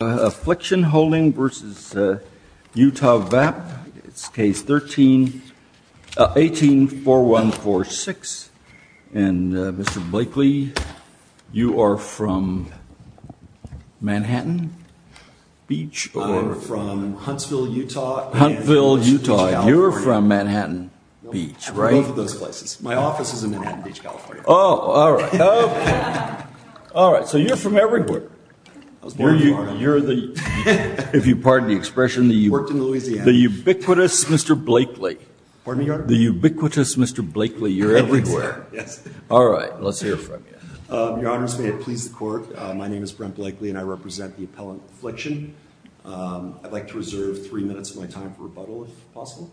Affliction Holdings v. Utah Vap, Case 18-4146. Mr. Blakely, you are from Manhattan Beach? I'm from Huntsville, Utah and Beach, California. Huntsville, Utah. You're from Manhattan Beach, right? Both of those places. My office is in Manhattan Beach, California. Oh, all right. All right. So you're from everywhere. You're the, if you pardon the expression, the ubiquitous Mr. Blakely. Pardon me, Your Honor? The ubiquitous Mr. Blakely. You're everywhere. Yes. All right. Let's hear from you. Your Honors, may it please the Court, my name is Brent Blakely and I represent the appellant affliction. I'd like to reserve three minutes of my time for rebuttal, if possible.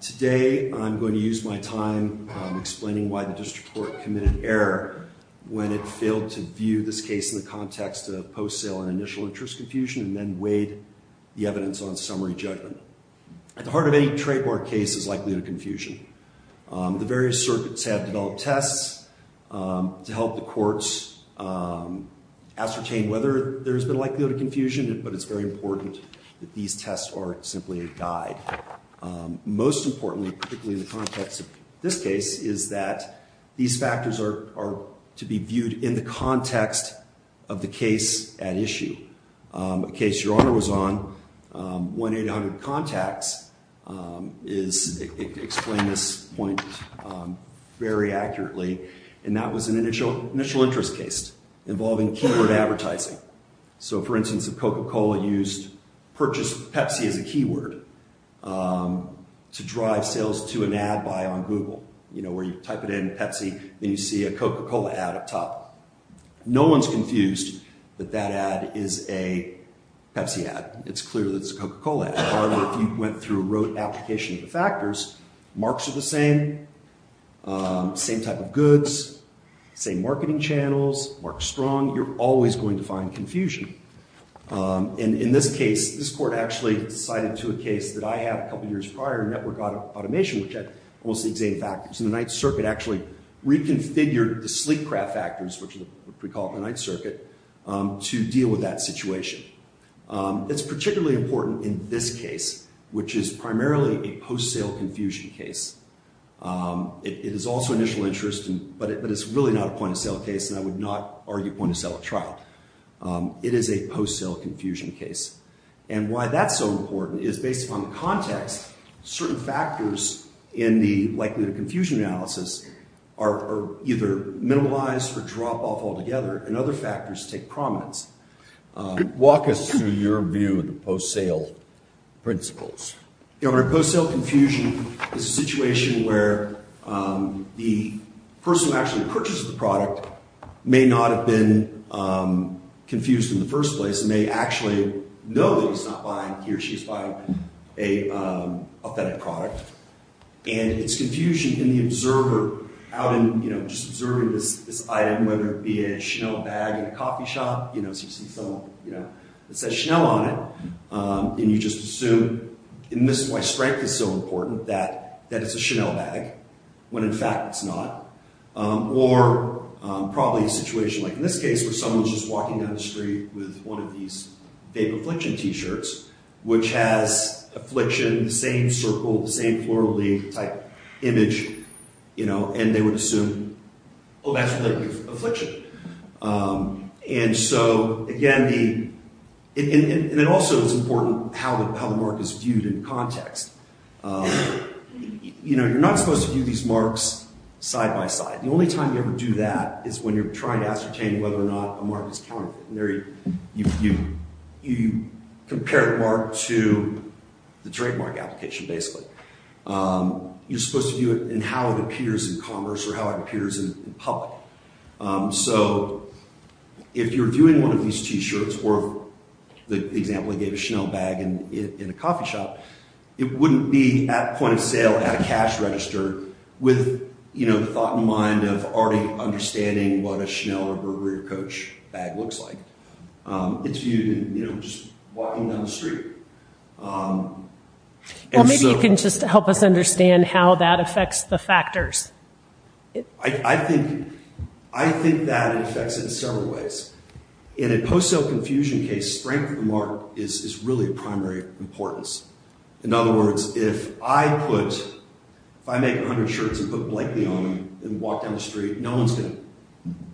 Today I'm going to use my time explaining why the district court committed error when it failed to view this case in the context of post-sale and initial interest confusion and then weighed the evidence on summary judgment. At the heart of any trademark case is likelihood of confusion. The various circuits have developed tests to help the courts ascertain whether there's been likelihood of confusion, but it's very important that these tests are simply a guide. Most importantly, particularly in the context of this case, is that these factors are to be viewed in the context of the case at issue. A case Your Honor was on, 1-800-CONTACTS, is, explained this point very accurately, and that was an initial interest case involving keyword advertising. So, for instance, if Coca-Cola purchased Pepsi as a keyword to drive sales to an ad buy on Google, where you type it in, Pepsi, then you see a Coca-Cola ad up top. No one's confused that that ad is a Pepsi ad. It's clear that it's a Coca-Cola ad. However, if you went through and wrote an application of the factors, marks are the same, same type of goods, same marketing channels, marks strong. You're always going to find confusion. And in this case, this court actually cited to a case that I had a couple years prior, Network Automation, which had almost the exact same factors. And the Ninth Circuit actually reconfigured the sleep craft factors, which we call it in the Ninth Circuit, to deal with that situation. It's particularly important in this case, which is primarily a post-sale confusion case. It is also initial interest, but it's really not a point-of-sale case, and I would not argue point-of-sale trial. It is a post-sale confusion case. And why that's so important is, based upon the context, certain factors in the likelihood of confusion analysis are either minimized or drop off altogether, and other factors take prominence. Walk us through your view of the post-sale principles. Post-sale confusion is a situation where the person who actually purchases the product may not have been confused in the first place, and may actually know that he's not buying, he or she's buying an authentic product. And it's confusion in the observer, out in, you know, just observing this item, whether it be a Chanel bag at a coffee shop, you know, and this is why strength is so important, that it's a Chanel bag, when in fact it's not. Or probably a situation like in this case, where someone's just walking down the street with one of these vape affliction t-shirts, which has affliction, the same circle, the same floral leaf-type image, you know, and they would assume, oh, that's relative affliction. And so, again, it also is important how the mark is viewed in context. You know, you're not supposed to view these marks side by side. The only time you ever do that is when you're trying to ascertain whether or not a mark is counterfeit. You compare the mark to the trademark application, basically. You're supposed to view it in how it appears in commerce, or how it appears in public. So if you're viewing one of these t-shirts, or the example I gave, a Chanel bag in a coffee shop, it wouldn't be at point of sale at a cash register with, you know, the thought in mind of already understanding what a Chanel or Burberry or Coach bag looks like. It's viewed in, you know, just walking down the street. Well, maybe you can just help us understand how that affects the factors. I think that it affects it in several ways. In a post-sale confusion case, strength of the mark is really of primary importance. In other words, if I make 100 shirts and put blankly on them and walk down the street, no one's going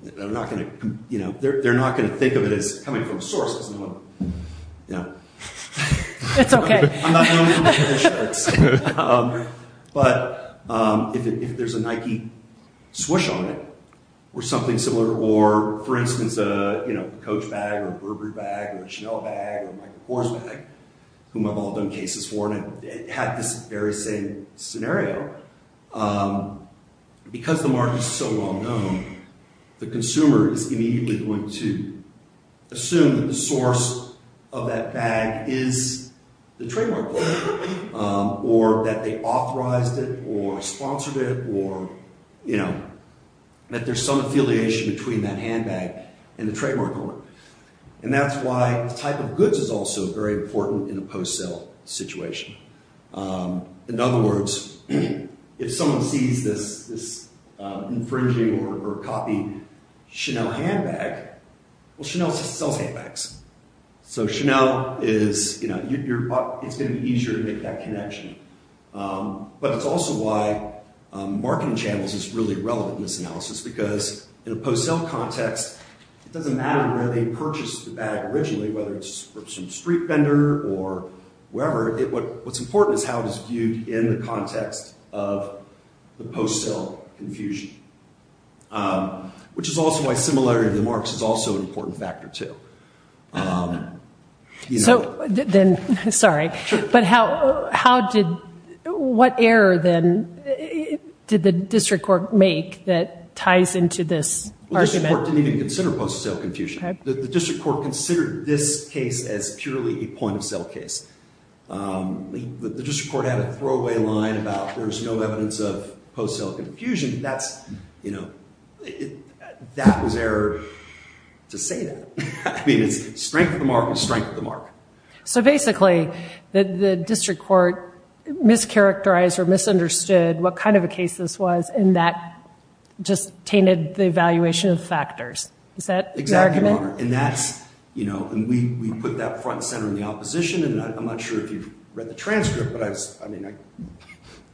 to, you know, they're not going to think of it as coming from sources. You know. That's okay. I'm not known for my 100 shirts. But if there's a Nike swoosh on it, or something similar, or, for instance, a, you know, Coach bag, or a Burberry bag, or a Chanel bag, or a Michael Kors bag, whom I've all done cases for, and it had this very same scenario, because the mark is so well known, the consumer is immediately going to assume that the source of that bag is the trademark holder, or that they authorized it, or sponsored it, or, you know, that there's some affiliation between that handbag and the trademark holder. And that's why the type of goods is also very important in a post-sale situation. In other words, if someone sees this infringing or copied Chanel handbag, well, Chanel sells handbags. So Chanel is, you know, it's going to be easier to make that connection. But it's also why marketing channels is really relevant in this analysis, because in a post-sale context, it doesn't matter where they purchased the bag originally, whether it's from a street vendor or wherever. What's important is how it is viewed in the context of the post-sale confusion, which is also why similarity of the marks is also an important factor, too. So then, sorry, but how did, what error, then, did the district court make that ties into this argument? Well, the district court didn't even consider post-sale confusion. The district court considered this case as purely a point-of-sale case. The district court had a throwaway line about there's no evidence of post-sale confusion. That's, you know, that was error to say that. I mean, it's strength of the mark is strength of the mark. So basically, the district court mischaracterized or misunderstood what kind of a case this was, and that just tainted the evaluation of factors. Is that the argument? Exactly, Margaret. And that's, you know, and we put that front and center in the opposition, and I'm not sure if you've read the transcript, but I was, I mean, I,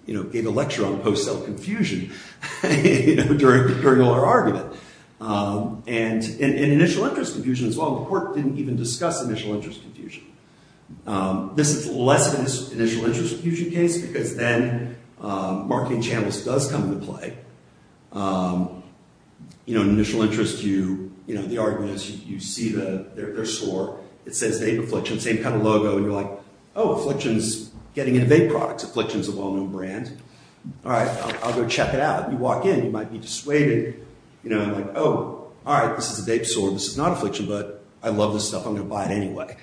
you know, gave a lecture on post-sale confusion during our argument. And initial interest confusion as well. The court didn't even discuss initial interest confusion. This is less of an initial interest confusion case because then marketing channels does come into play. You know, initial interest, you, you know, the argument is you see their store. It says Dape Affliction, same kind of logo. And you're like, oh, Affliction's getting into vape products. Affliction's a well-known brand. All right, I'll go check it out. You walk in, you might be dissuaded. You know, I'm like, oh, all right, this is a Dape store. This is not Affliction, but I love this stuff. I'm going to buy it anyway.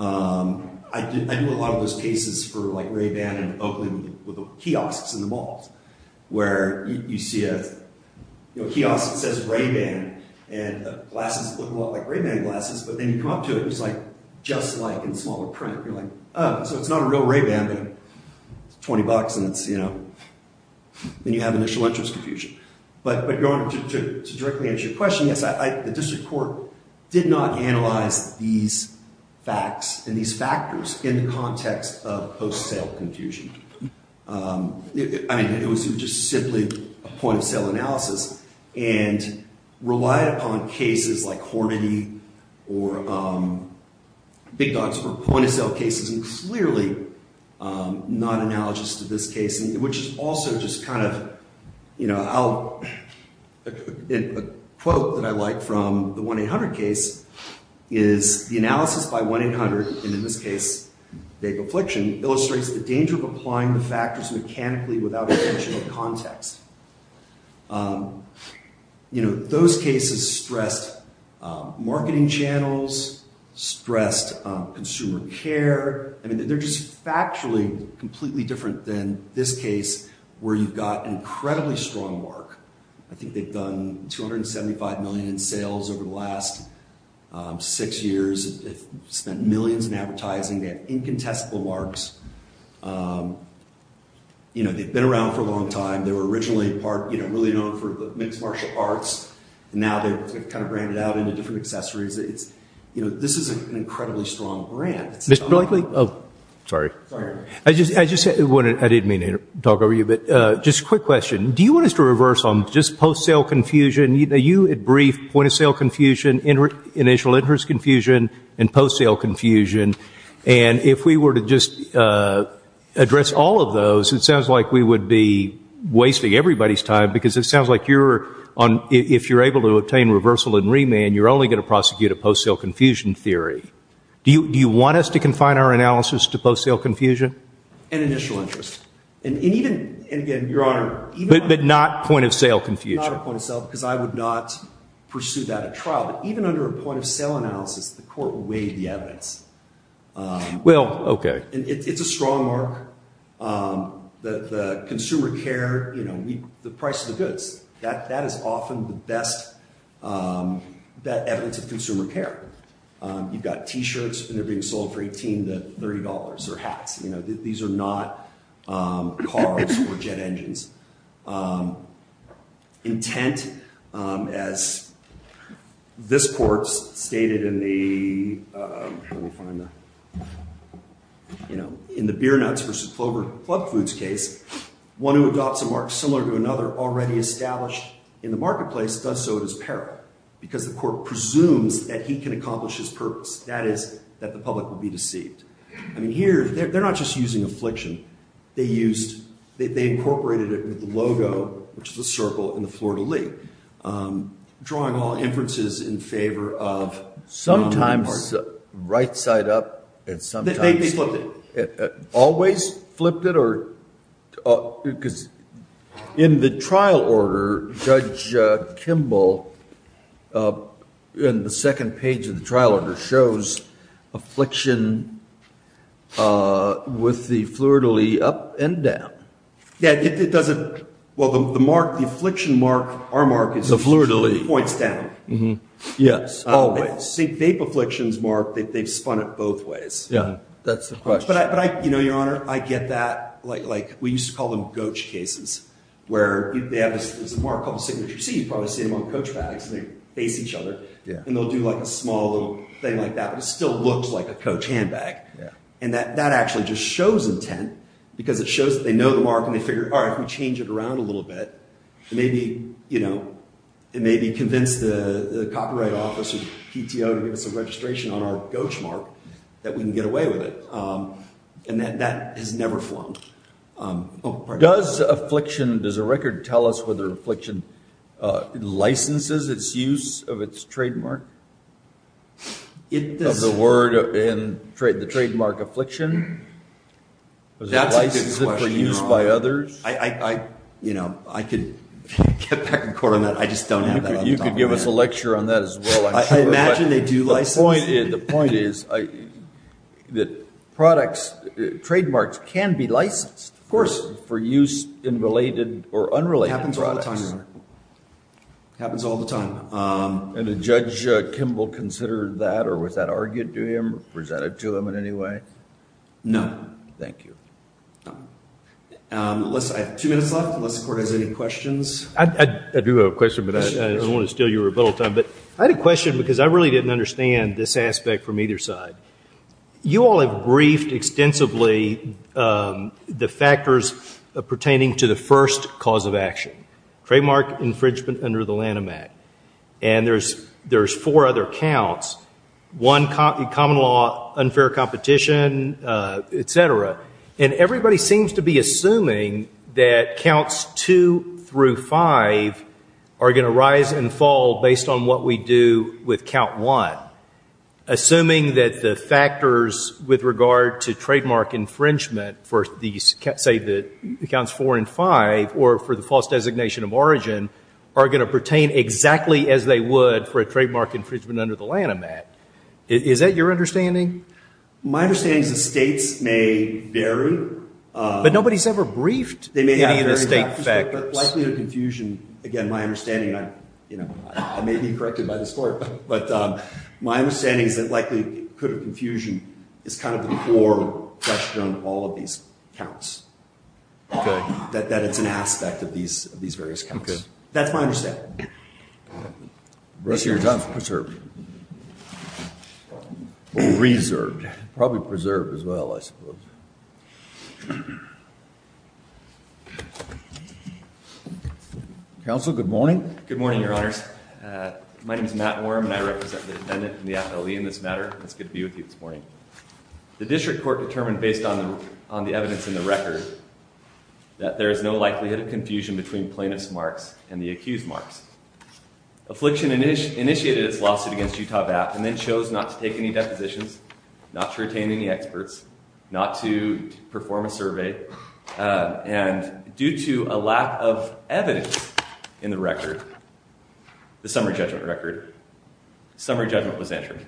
I do a lot of those cases for like Ray-Ban and Oakley with kiosks in the malls where you see a kiosk that says Ray-Ban and glasses that look a lot like Ray-Ban glasses, but then you come up to it, and it's like just like in smaller print. You're like, oh, so it's not a real Ray-Ban, but it's $20, and it's, you know, and you have initial interest confusion. But going to directly answer your question, yes, the district court did not analyze these facts and these factors in the context of post-sale confusion. I mean, it was just simply a point-of-sale analysis and relied upon cases like Hornady or Big Dogs for point-of-sale cases, and clearly not analogous to this case, which is also just kind of, you know, a quote that I like from the 1-800 case is, the analysis by 1-800, and in this case, vague affliction, illustrates the danger of applying the factors mechanically without intentional context. You know, those cases stressed marketing channels, stressed consumer care. I mean, they're just factually completely different than this case where you've got incredibly strong work. I think they've done 275 million in sales over the last six years. They've spent millions in advertising. They have incontestable marks. You know, they've been around for a long time. They were originally part, you know, really known for the mixed martial arts, and now they've kind of branded out into different accessories. You know, this is an incredibly strong brand. Mr. Blakely? Oh, sorry. Sorry. I didn't mean to talk over you, but just a quick question. Do you want us to reverse on just post-sale confusion? You had briefed point-of-sale confusion, initial interest confusion, and post-sale confusion, and if we were to just address all of those, it sounds like we would be wasting everybody's time, because it sounds like if you're able to obtain reversal and remand, you're only going to prosecute a post-sale confusion theory. Do you want us to confine our analysis to post-sale confusion? And initial interest. And even, and again, Your Honor. But not point-of-sale confusion. Not a point-of-sale, because I would not pursue that at trial. But even under a point-of-sale analysis, the court will weigh the evidence. Well, okay. It's a strong mark. The consumer care, you know, the price of the goods, that is often the best evidence of consumer care. You've got T-shirts, and they're being sold for $18 to $30, or hats. You know, these are not cars or jet engines. Intent, as this court's stated in the, let me find the, you know, in the beer nuts versus club foods case, one who adopts a mark similar to another already established in the marketplace does so at his peril, because the court presumes that he can accomplish his purpose. That is, that the public will be deceived. I mean, here, they're not just using affliction. They used, they incorporated it with the logo, which is a circle, in the Florida League. Drawing all inferences in favor of. Sometimes right side up, and sometimes. They flipped it. Always flipped it? Because in the trial order, Judge Kimball, in the second page of the trial order, shows affliction with the Florida League up and down. Yeah, it doesn't, well, the mark, the affliction mark, our mark is. The Florida League. Points down. Yes, always. See, vape afflictions mark, they've spun it both ways. Yeah, that's the question. But I, you know, Your Honor, I get that. Like, we used to call them goach cases, where they have this mark called the signature C. You probably see them on coach bags, and they face each other. And they'll do like a small little thing like that. But it still looks like a coach handbag. And that actually just shows intent, because it shows that they know the mark, and they figure, all right, if we change it around a little bit, it may be, you know, it may be convinced the Copyright Office or PTO to give us a registration on our goach mark that we can get away with it. And that has never flown. Does affliction, does the record tell us whether affliction licenses its use of its trademark? Of the word, the trademark affliction? Does it license it for use by others? You know, I could get back in court on that. I just don't have that up top. You could give us a lecture on that as well, I'm sure. I imagine they do license it. The point is that products, trademarks can be licensed. Of course. For use in related or unrelated products. Happens all the time, Your Honor. Happens all the time. And did Judge Kimball consider that, or was that argued to him, presented to him in any way? No. Thank you. No. I have two minutes left, unless the Court has any questions. I do have a question, but I don't want to steal your rebuttal time. But I had a question because I really didn't understand this aspect from either side. You all have briefed extensively the factors pertaining to the first cause of action. Trademark infringement under the Lanham Act. And there's four other counts. One, common law, unfair competition, et cetera. And everybody seems to be assuming that counts two through five are going to rise and fall based on what we do with count one. Assuming that the factors with regard to trademark infringement for, say, the counts four and five, or for the false designation of origin, are going to pertain exactly as they would for a trademark infringement under the Lanham Act. Is that your understanding? My understanding is the states may vary. But nobody's ever briefed any of the state factors. They may have varying factors, but likely to confusion. Again, my understanding, and I may be corrected by this Court, but my understanding is that likely could have confusion is kind of the core question of all of these counts. Okay. That it's an aspect of these various counts. Okay. That's my understanding. The rest of your time is preserved. Or reserved. Probably preserved as well, I suppose. Counsel, good morning. Good morning, Your Honors. My name is Matt Worm, and I represent the defendant and the affiliate in this matter. It's good to be with you this morning. The district court determined, based on the evidence in the record, that there is no likelihood of confusion between plaintiff's marks and the accused marks. Affliction initiated its lawsuit against Utah VAT and then chose not to take any depositions, not to retain any experts, not to perform a survey. And due to a lack of evidence in the record, the summary judgment record, summary judgment was entered.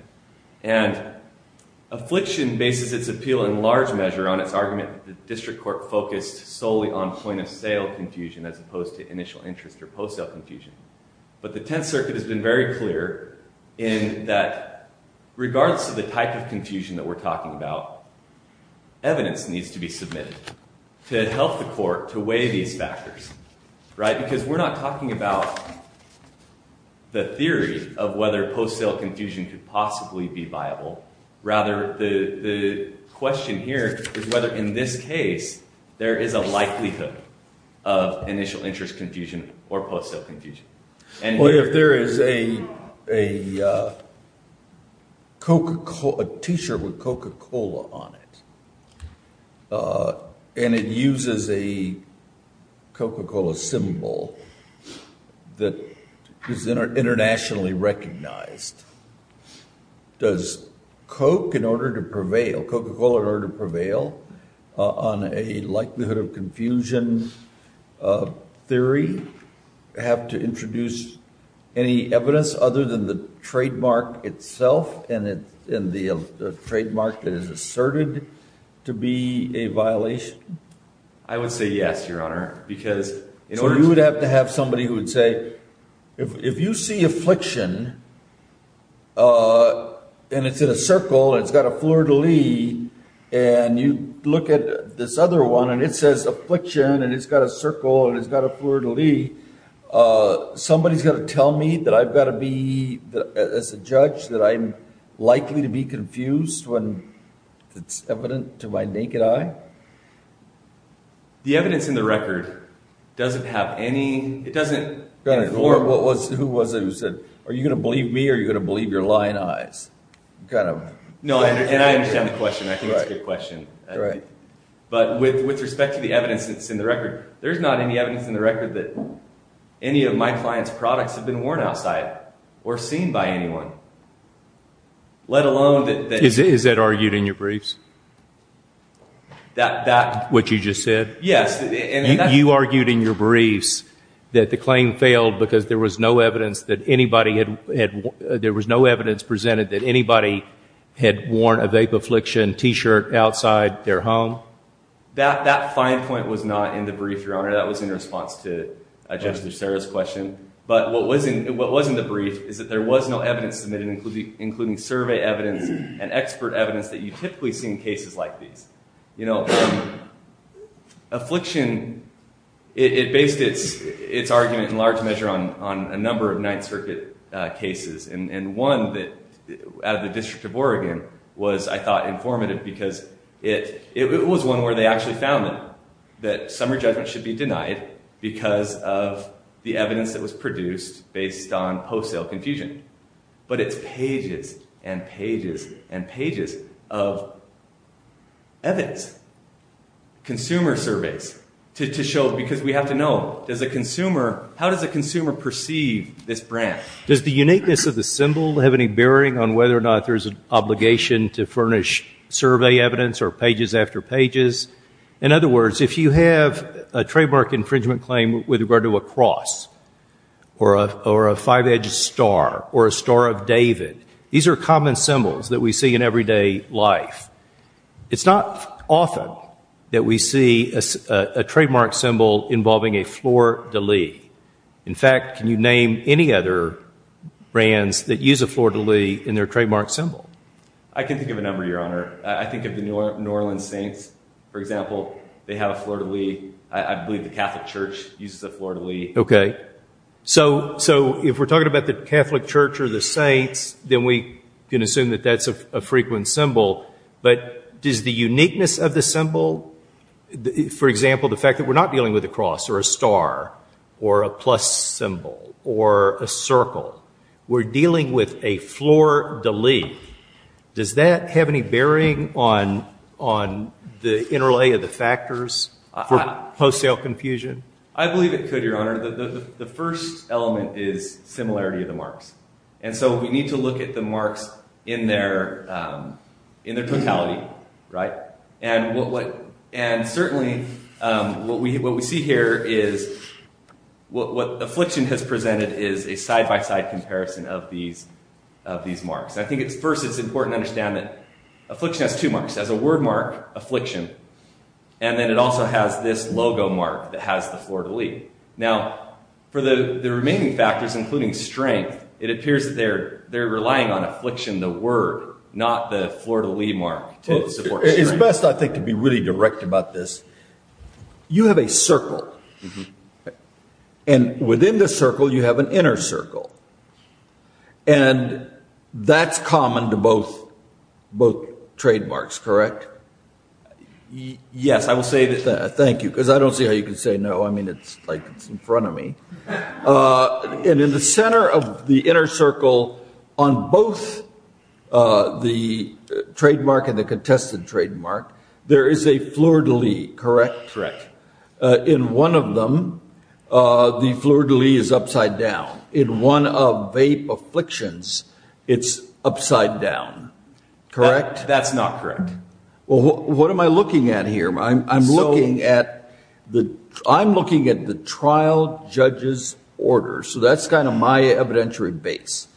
And affliction bases its appeal in large measure on its argument that the district court focused solely on plaintiff's sale confusion as opposed to initial interest or post-sale confusion. But the Tenth Circuit has been very clear in that regardless of the type of confusion that we're talking about, evidence needs to be submitted to help the court to weigh these factors, right? Because we're not talking about the theory of whether post-sale confusion could possibly be viable. Rather, the question here is whether, in this case, there is a likelihood of initial interest confusion or post-sale confusion. Well, if there is a T-shirt with Coca-Cola on it and it uses a Coca-Cola symbol that is internationally recognized, does Coca-Cola, in order to prevail on a likelihood of confusion theory, have to introduce any evidence other than the trademark itself and the trademark that is asserted to be a violation? I would say yes, Your Honor. So you would have to have somebody who would say, if you see affliction and it's in a circle and it's got a fleur-de-lis, and you look at this other one and it says affliction and it's got a circle and it's got a fleur-de-lis, somebody's got to tell me that I've got to be, as a judge, that I'm likely to be confused when it's evident to my naked eye? The evidence in the record doesn't have any... Your Honor, who was it who said, are you going to believe me or are you going to believe your lying eyes? No, and I understand the question. I think it's a good question. But with respect to the evidence that's in the record, there's not any evidence in the record that any of my client's products have been worn outside or seen by anyone, let alone that... Is that argued in your briefs? That what you just said? Yes. You argued in your briefs that the claim failed because there was no evidence that anybody had... There was no evidence presented that anybody had worn a vape affliction T-shirt outside their home? That fine point was not in the brief, Your Honor. That was in response to Judge Lucero's question. But what was in the brief is that there was no evidence submitted, including survey evidence and expert evidence that you typically see in cases like these. Affliction, it based its argument in large measure on a number of Ninth Circuit cases, and one out of the District of Oregon was, I thought, informative because it was one where they actually found it, that summary judgment should be denied because of the evidence that was produced based on post-sale confusion. But it's pages and pages and pages of evidence, consumer surveys, to show... Because we have to know, how does a consumer perceive this brand? Does the uniqueness of the symbol have any bearing on whether or not there's an obligation to furnish survey evidence or pages after pages? In other words, if you have a trademark infringement claim with regard to a cross or a five-edged star or a Star of David, these are common symbols that we see in everyday life. It's not often that we see a trademark symbol involving a fleur-de-lis. In fact, can you name any other brands that use a fleur-de-lis in their trademark symbol? I can think of a number, Your Honor. I think of the New Orleans Saints, for example. They have a fleur-de-lis. I believe the Catholic Church uses a fleur-de-lis. Okay. So if we're talking about the Catholic Church or the Saints, then we can assume that that's a frequent symbol. But does the uniqueness of the symbol, for example, the fact that we're not dealing with a cross or a star or a plus symbol or a circle, we're dealing with a fleur-de-lis, does that have any bearing on the interlay of the factors for wholesale confusion? I believe it could, Your Honor. The first element is similarity of the marks. And so we need to look at the marks in their totality, right? And certainly what we see here is what Affliction has presented is a side-by-side comparison of these marks. I think first it's important to understand that Affliction has two marks. It has a word mark, Affliction, and then it also has this logo mark that has the fleur-de-lis. Now, for the remaining factors, including strength, it appears that they're relying on Affliction, the word, not the fleur-de-lis mark to support strength. It's best, I think, to be really direct about this. You have a circle. And within the circle you have an inner circle. And that's common to both trademarks, correct? Yes, I will say that. Thank you, because I don't see how you can say no. I mean, it's like it's in front of me. And in the center of the inner circle on both the trademark and the contested trademark, there is a fleur-de-lis, correct? Correct. In one of them, the fleur-de-lis is upside down. In one of vape afflictions, it's upside down, correct? That's not correct. Well, what am I looking at here? I'm looking at the trial judge's order. So that's kind of my evidentiary base.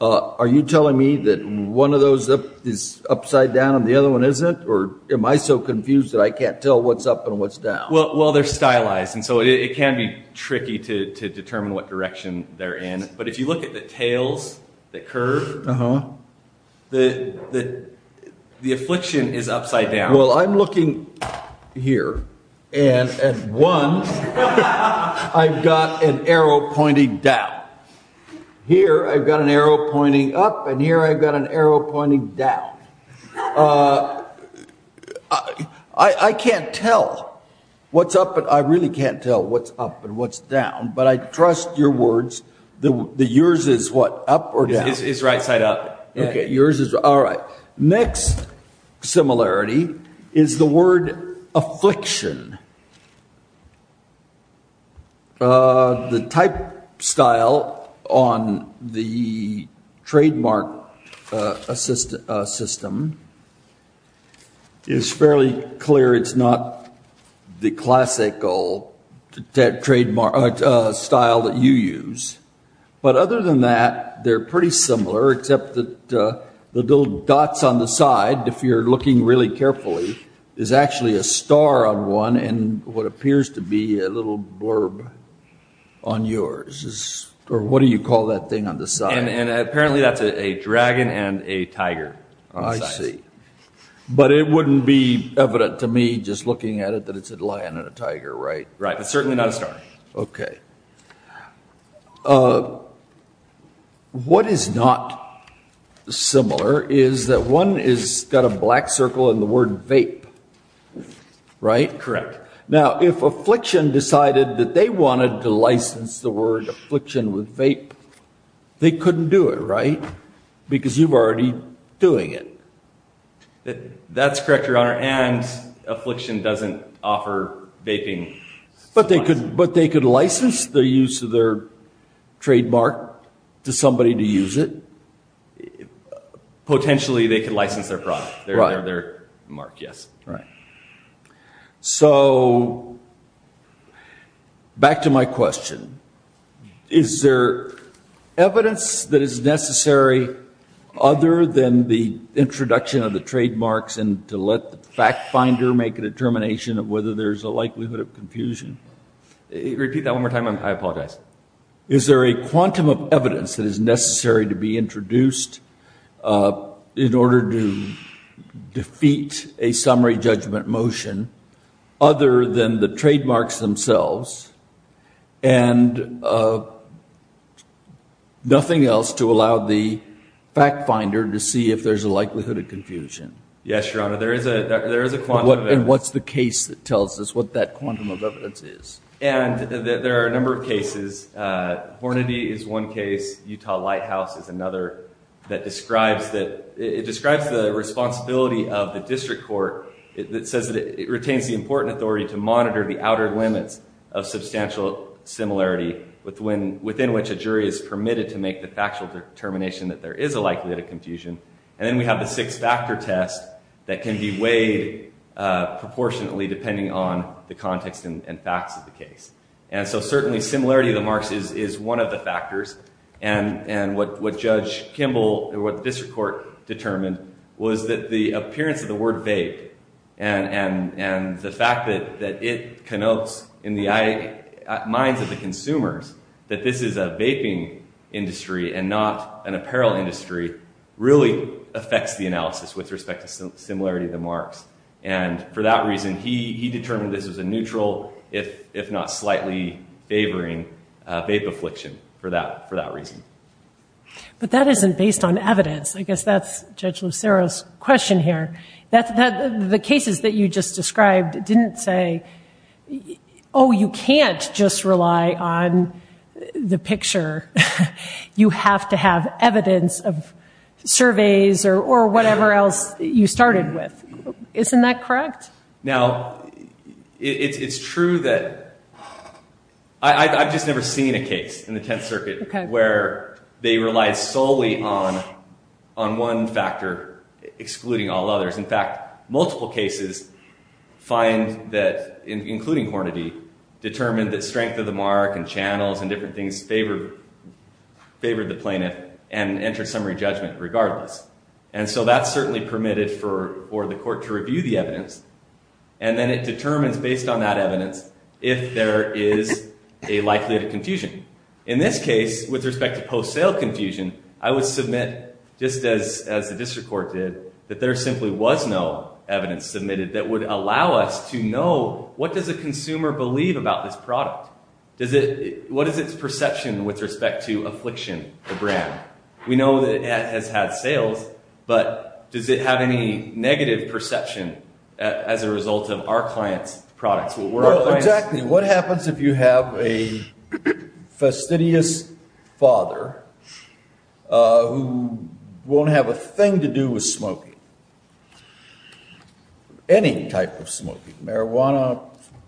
Are you telling me that one of those is upside down and the other one isn't? Or am I so confused that I can't tell what's up and what's down? Well, they're stylized, and so it can be tricky to determine what direction they're in. But if you look at the tails that curve, the affliction is upside down. Well, I'm looking here, and at one, I've got an arrow pointing down. Here, I've got an arrow pointing up, and here I've got an arrow pointing down. I can't tell what's up, but I really can't tell what's up and what's down. But I trust your words. The yours is what, up or down? It's right-side up. Okay. All right. Next similarity is the word affliction. The type style on the trademark system is fairly clear. It's not the classical style that you use. But other than that, they're pretty similar, except that the little dots on the side, if you're looking really carefully, is actually a star on one and what appears to be a little blurb on yours. Or what do you call that thing on the side? Apparently, that's a dragon and a tiger. I see. But it wouldn't be evident to me, just looking at it, that it's a lion and a tiger, right? Right. Certainly not a star. Okay. What is not similar is that one has got a black circle and the word vape. Right? Correct. Now, if Affliction decided that they wanted to license the word affliction with vape, they couldn't do it, right? Because you're already doing it. That's correct, Your Honor, and Affliction doesn't offer vaping. But they could license the use of their trademark to somebody to use it. Potentially, they could license their product, their mark, yes. Right. So, back to my question. Is there evidence that is necessary other than the introduction of the trademarks and to let the fact finder make a determination of whether there's a likelihood of confusion? Repeat that one more time. I apologize. Is there a quantum of evidence that is necessary to be introduced in order to defeat a summary judgment motion other than the trademarks themselves and nothing else to allow the fact finder to see if there's a likelihood of confusion? Yes, Your Honor, there is a quantum of evidence. And what's the case that tells us what that quantum of evidence is? And there are a number of cases. Hornady is one case. Utah Lighthouse is another that describes the responsibility of the district court that says that it retains the important authority to monitor the outer limits of substantial similarity within which a jury is permitted to make the factual determination that there is a likelihood of confusion. And then we have the six-factor test that can be weighed proportionately depending on the context and facts of the case. And so, certainly, similarity of the marks is one of the factors. And what Judge Kimball or what the district court determined was that the appearance of the word vape and the fact that it connotes in the minds of the consumers that this is a vaping industry and not an apparel industry really affects the analysis with respect to similarity of the marks. And for that reason, he determined this was a neutral, if not slightly favoring, vape affliction for that reason. But that isn't based on evidence. I guess that's Judge Lucero's question here. The cases that you just described didn't say, oh, you can't just rely on the picture. You have to have evidence of surveys or whatever else you started with. Isn't that correct? Now, it's true that I've just never seen a case in the Tenth Circuit where they relied solely on one factor excluding all others. In fact, multiple cases find that, including Hornady, determined that strength of the mark and channels and different things favored the plaintiff and entered summary judgment regardless. And so that's certainly permitted for the court to review the evidence. And then it determines, based on that evidence, if there is a likelihood of confusion. In this case, with respect to post-sale confusion, I would submit, just as the district court did, that there simply was no evidence submitted that would allow us to know, what does a consumer believe about this product? What is its perception with respect to affliction of brand? We know that it has had sales, but does it have any negative perception as a result of our client's products? Exactly. What happens if you have a fastidious father who won't have a thing to do with smoking, any type of smoking, marijuana,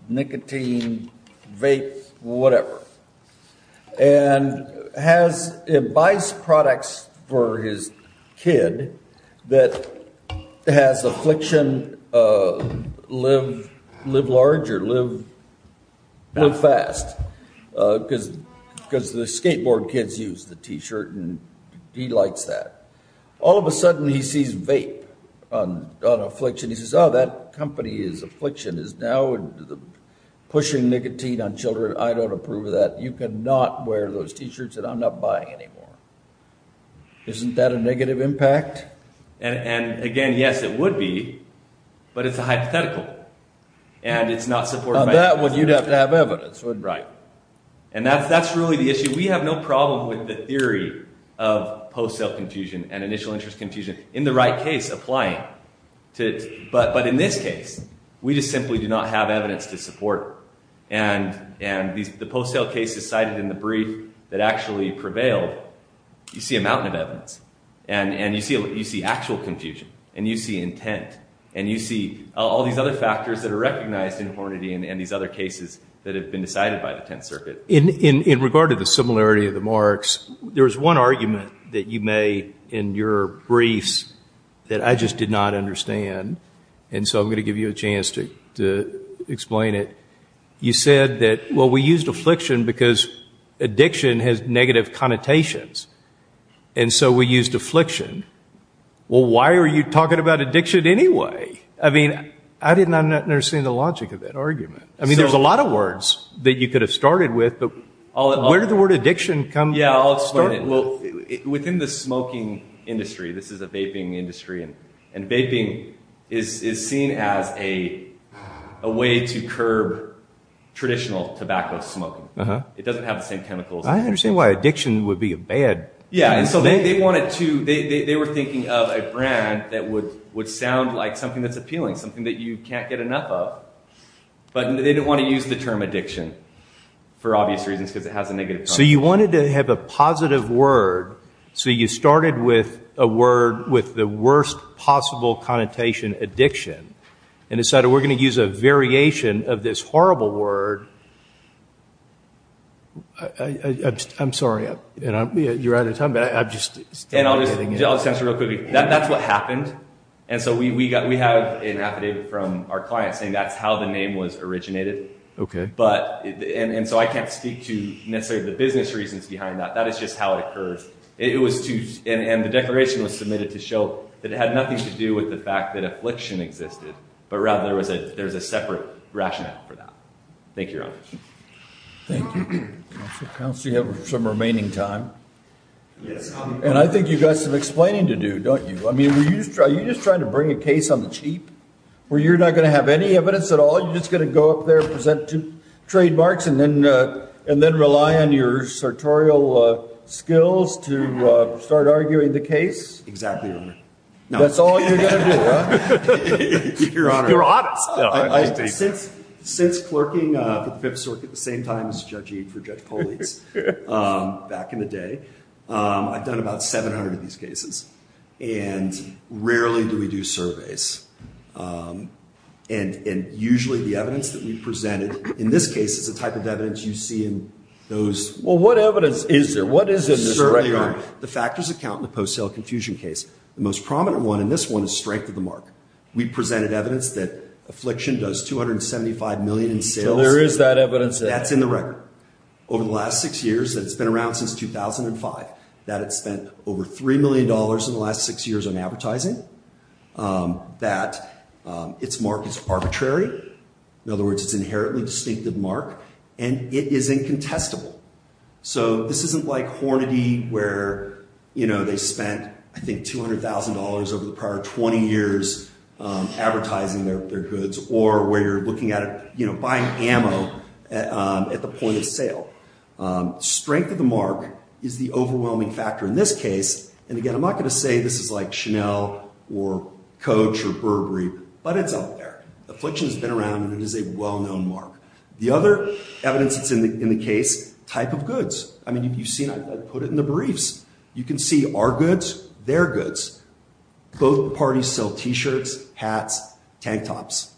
nicotine, vape, whatever, and buys products for his kid that has affliction live larger, live fast, because the skateboard kids use the T-shirt and he likes that. All of a sudden, he sees vape on affliction. He says, oh, that company's affliction is now pushing nicotine on children. I don't approve of that. You cannot wear those T-shirts that I'm not buying anymore. Isn't that a negative impact? And again, yes, it would be, but it's a hypothetical, and it's not supported by evidence. On that one, you'd have to have evidence, wouldn't you? That's really the issue. We have no problem with the theory of post-sale confusion and initial interest confusion. In the right case, apply it. But in this case, we just simply do not have evidence to support it. The post-sale case is cited in the brief that actually prevailed. You see a mountain of evidence. You see actual confusion, and you see intent, and you see all these other factors that are recognized in Hornady and these other cases that have been decided by the Tenth Circuit. In regard to the similarity of the marks, there's one argument that you made in your briefs that I just did not understand, and so I'm going to give you a chance to explain it. You said that, well, we used affliction because addiction has negative connotations, and so we used affliction. Well, why are you talking about addiction anyway? I mean, I did not understand the logic of that argument. I mean, there's a lot of words that you could have started with, but where did the word addiction come from? Within the smoking industry, this is a vaping industry, and vaping is seen as a way to curb traditional tobacco smoking. It doesn't have the same chemicals. I don't understand why addiction would be a bad thing. Yeah, and so they were thinking of a brand that would sound like something that's appealing, something that you can't get enough of, but they didn't want to use the term addiction for obvious reasons because it has a negative connotation. So you wanted to have a positive word, so you started with a word with the worst possible connotation, addiction, and decided we're going to use a variation of this horrible word. I'm sorry, you're out of time, but I'm just… I'll just answer real quickly. That's what happened, and so we have an affidavit from our client saying that's how the name was originated. And so I can't speak to necessarily the business reasons behind that. That is just how it occurred, and the declaration was submitted to show that it had nothing to do with the fact that affliction existed, but rather there was a separate rationale for that. Thank you, Your Honor. Thank you. Counsel, you have some remaining time, and I think you've got some explaining to do, don't you? I mean, are you just trying to bring a case on the cheap where you're not going to have any evidence at all? You're just going to go up there, present two trademarks, and then rely on your sartorial skills to start arguing the case? Exactly, Your Honor. That's all you're going to do, huh? Your Honor, since clerking for the Fifth Circuit at the same time as judging for Judge Polizzi back in the day, I've done about 700 of these cases, and rarely do we do surveys. And usually the evidence that we presented in this case is the type of evidence you see in those. Well, what evidence is there? What is in this record? Certainly, Your Honor. The factors that count in the post-sale confusion case. The most prominent one in this one is strength of the mark. We presented evidence that affliction does $275 million in sales. So there is that evidence there. That's in the record. Over the last six years, and it's been around since 2005, that it spent over $3 million in the last six years on advertising. That its mark is arbitrary. In other words, it's an inherently distinctive mark, and it is incontestable. So this isn't like Hornady, where they spent, I think, $200,000 over the prior 20 years advertising their goods, or where you're looking at buying ammo at the point of sale. Strength of the mark is the overwhelming factor in this case. And again, I'm not going to say this is like Chanel or Coach or Burberry, but it's up there. Affliction has been around, and it is a well-known mark. The other evidence that's in the case, type of goods. I mean, you've seen, I put it in the briefs. You can see our goods, their goods. Both parties sell T-shirts, hats, tank tops.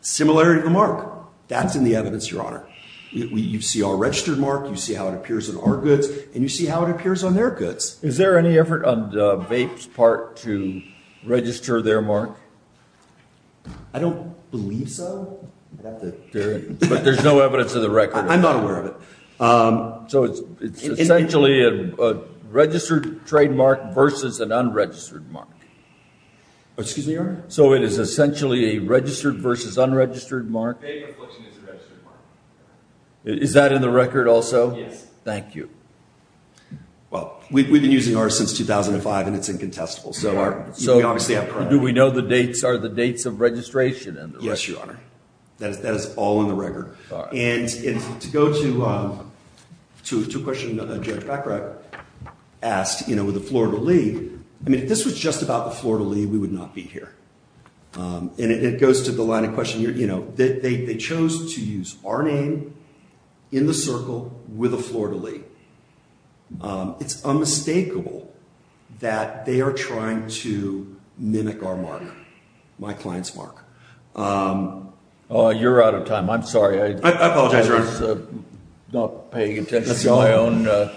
Similarity of the mark. That's in the evidence, Your Honor. You see our registered mark. You see how it appears on our goods, and you see how it appears on their goods. Is there any effort on VAPE's part to register their mark? I don't believe so. But there's no evidence of the record. I'm not aware of it. So it's essentially a registered trademark versus an unregistered mark. Excuse me, Your Honor? So it is essentially a registered versus unregistered mark? VAPE Affliction is a registered mark. Is that in the record also? Yes. Thank you. Well, we've been using ours since 2005, and it's incontestable. So we obviously have priority. Do we know the dates? Are the dates of registration in the record? Yes, Your Honor. That is all in the record. And to go to a question Judge Baccarat asked, you know, with the Florida League, I mean, if this was just about the Florida League, we would not be here. And it goes to the line of question, you know, they chose to use our name in the circle with a Florida League. It's unmistakable that they are trying to mimic our mark, my client's mark. You're out of time. I'm sorry. I apologize, Your Honor. I was not paying attention to my own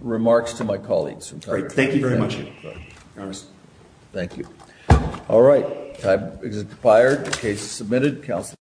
remarks to my colleagues. Great. Thank you very much, Your Honor. Thank you. All right. Time has expired. Case submitted. Counsel.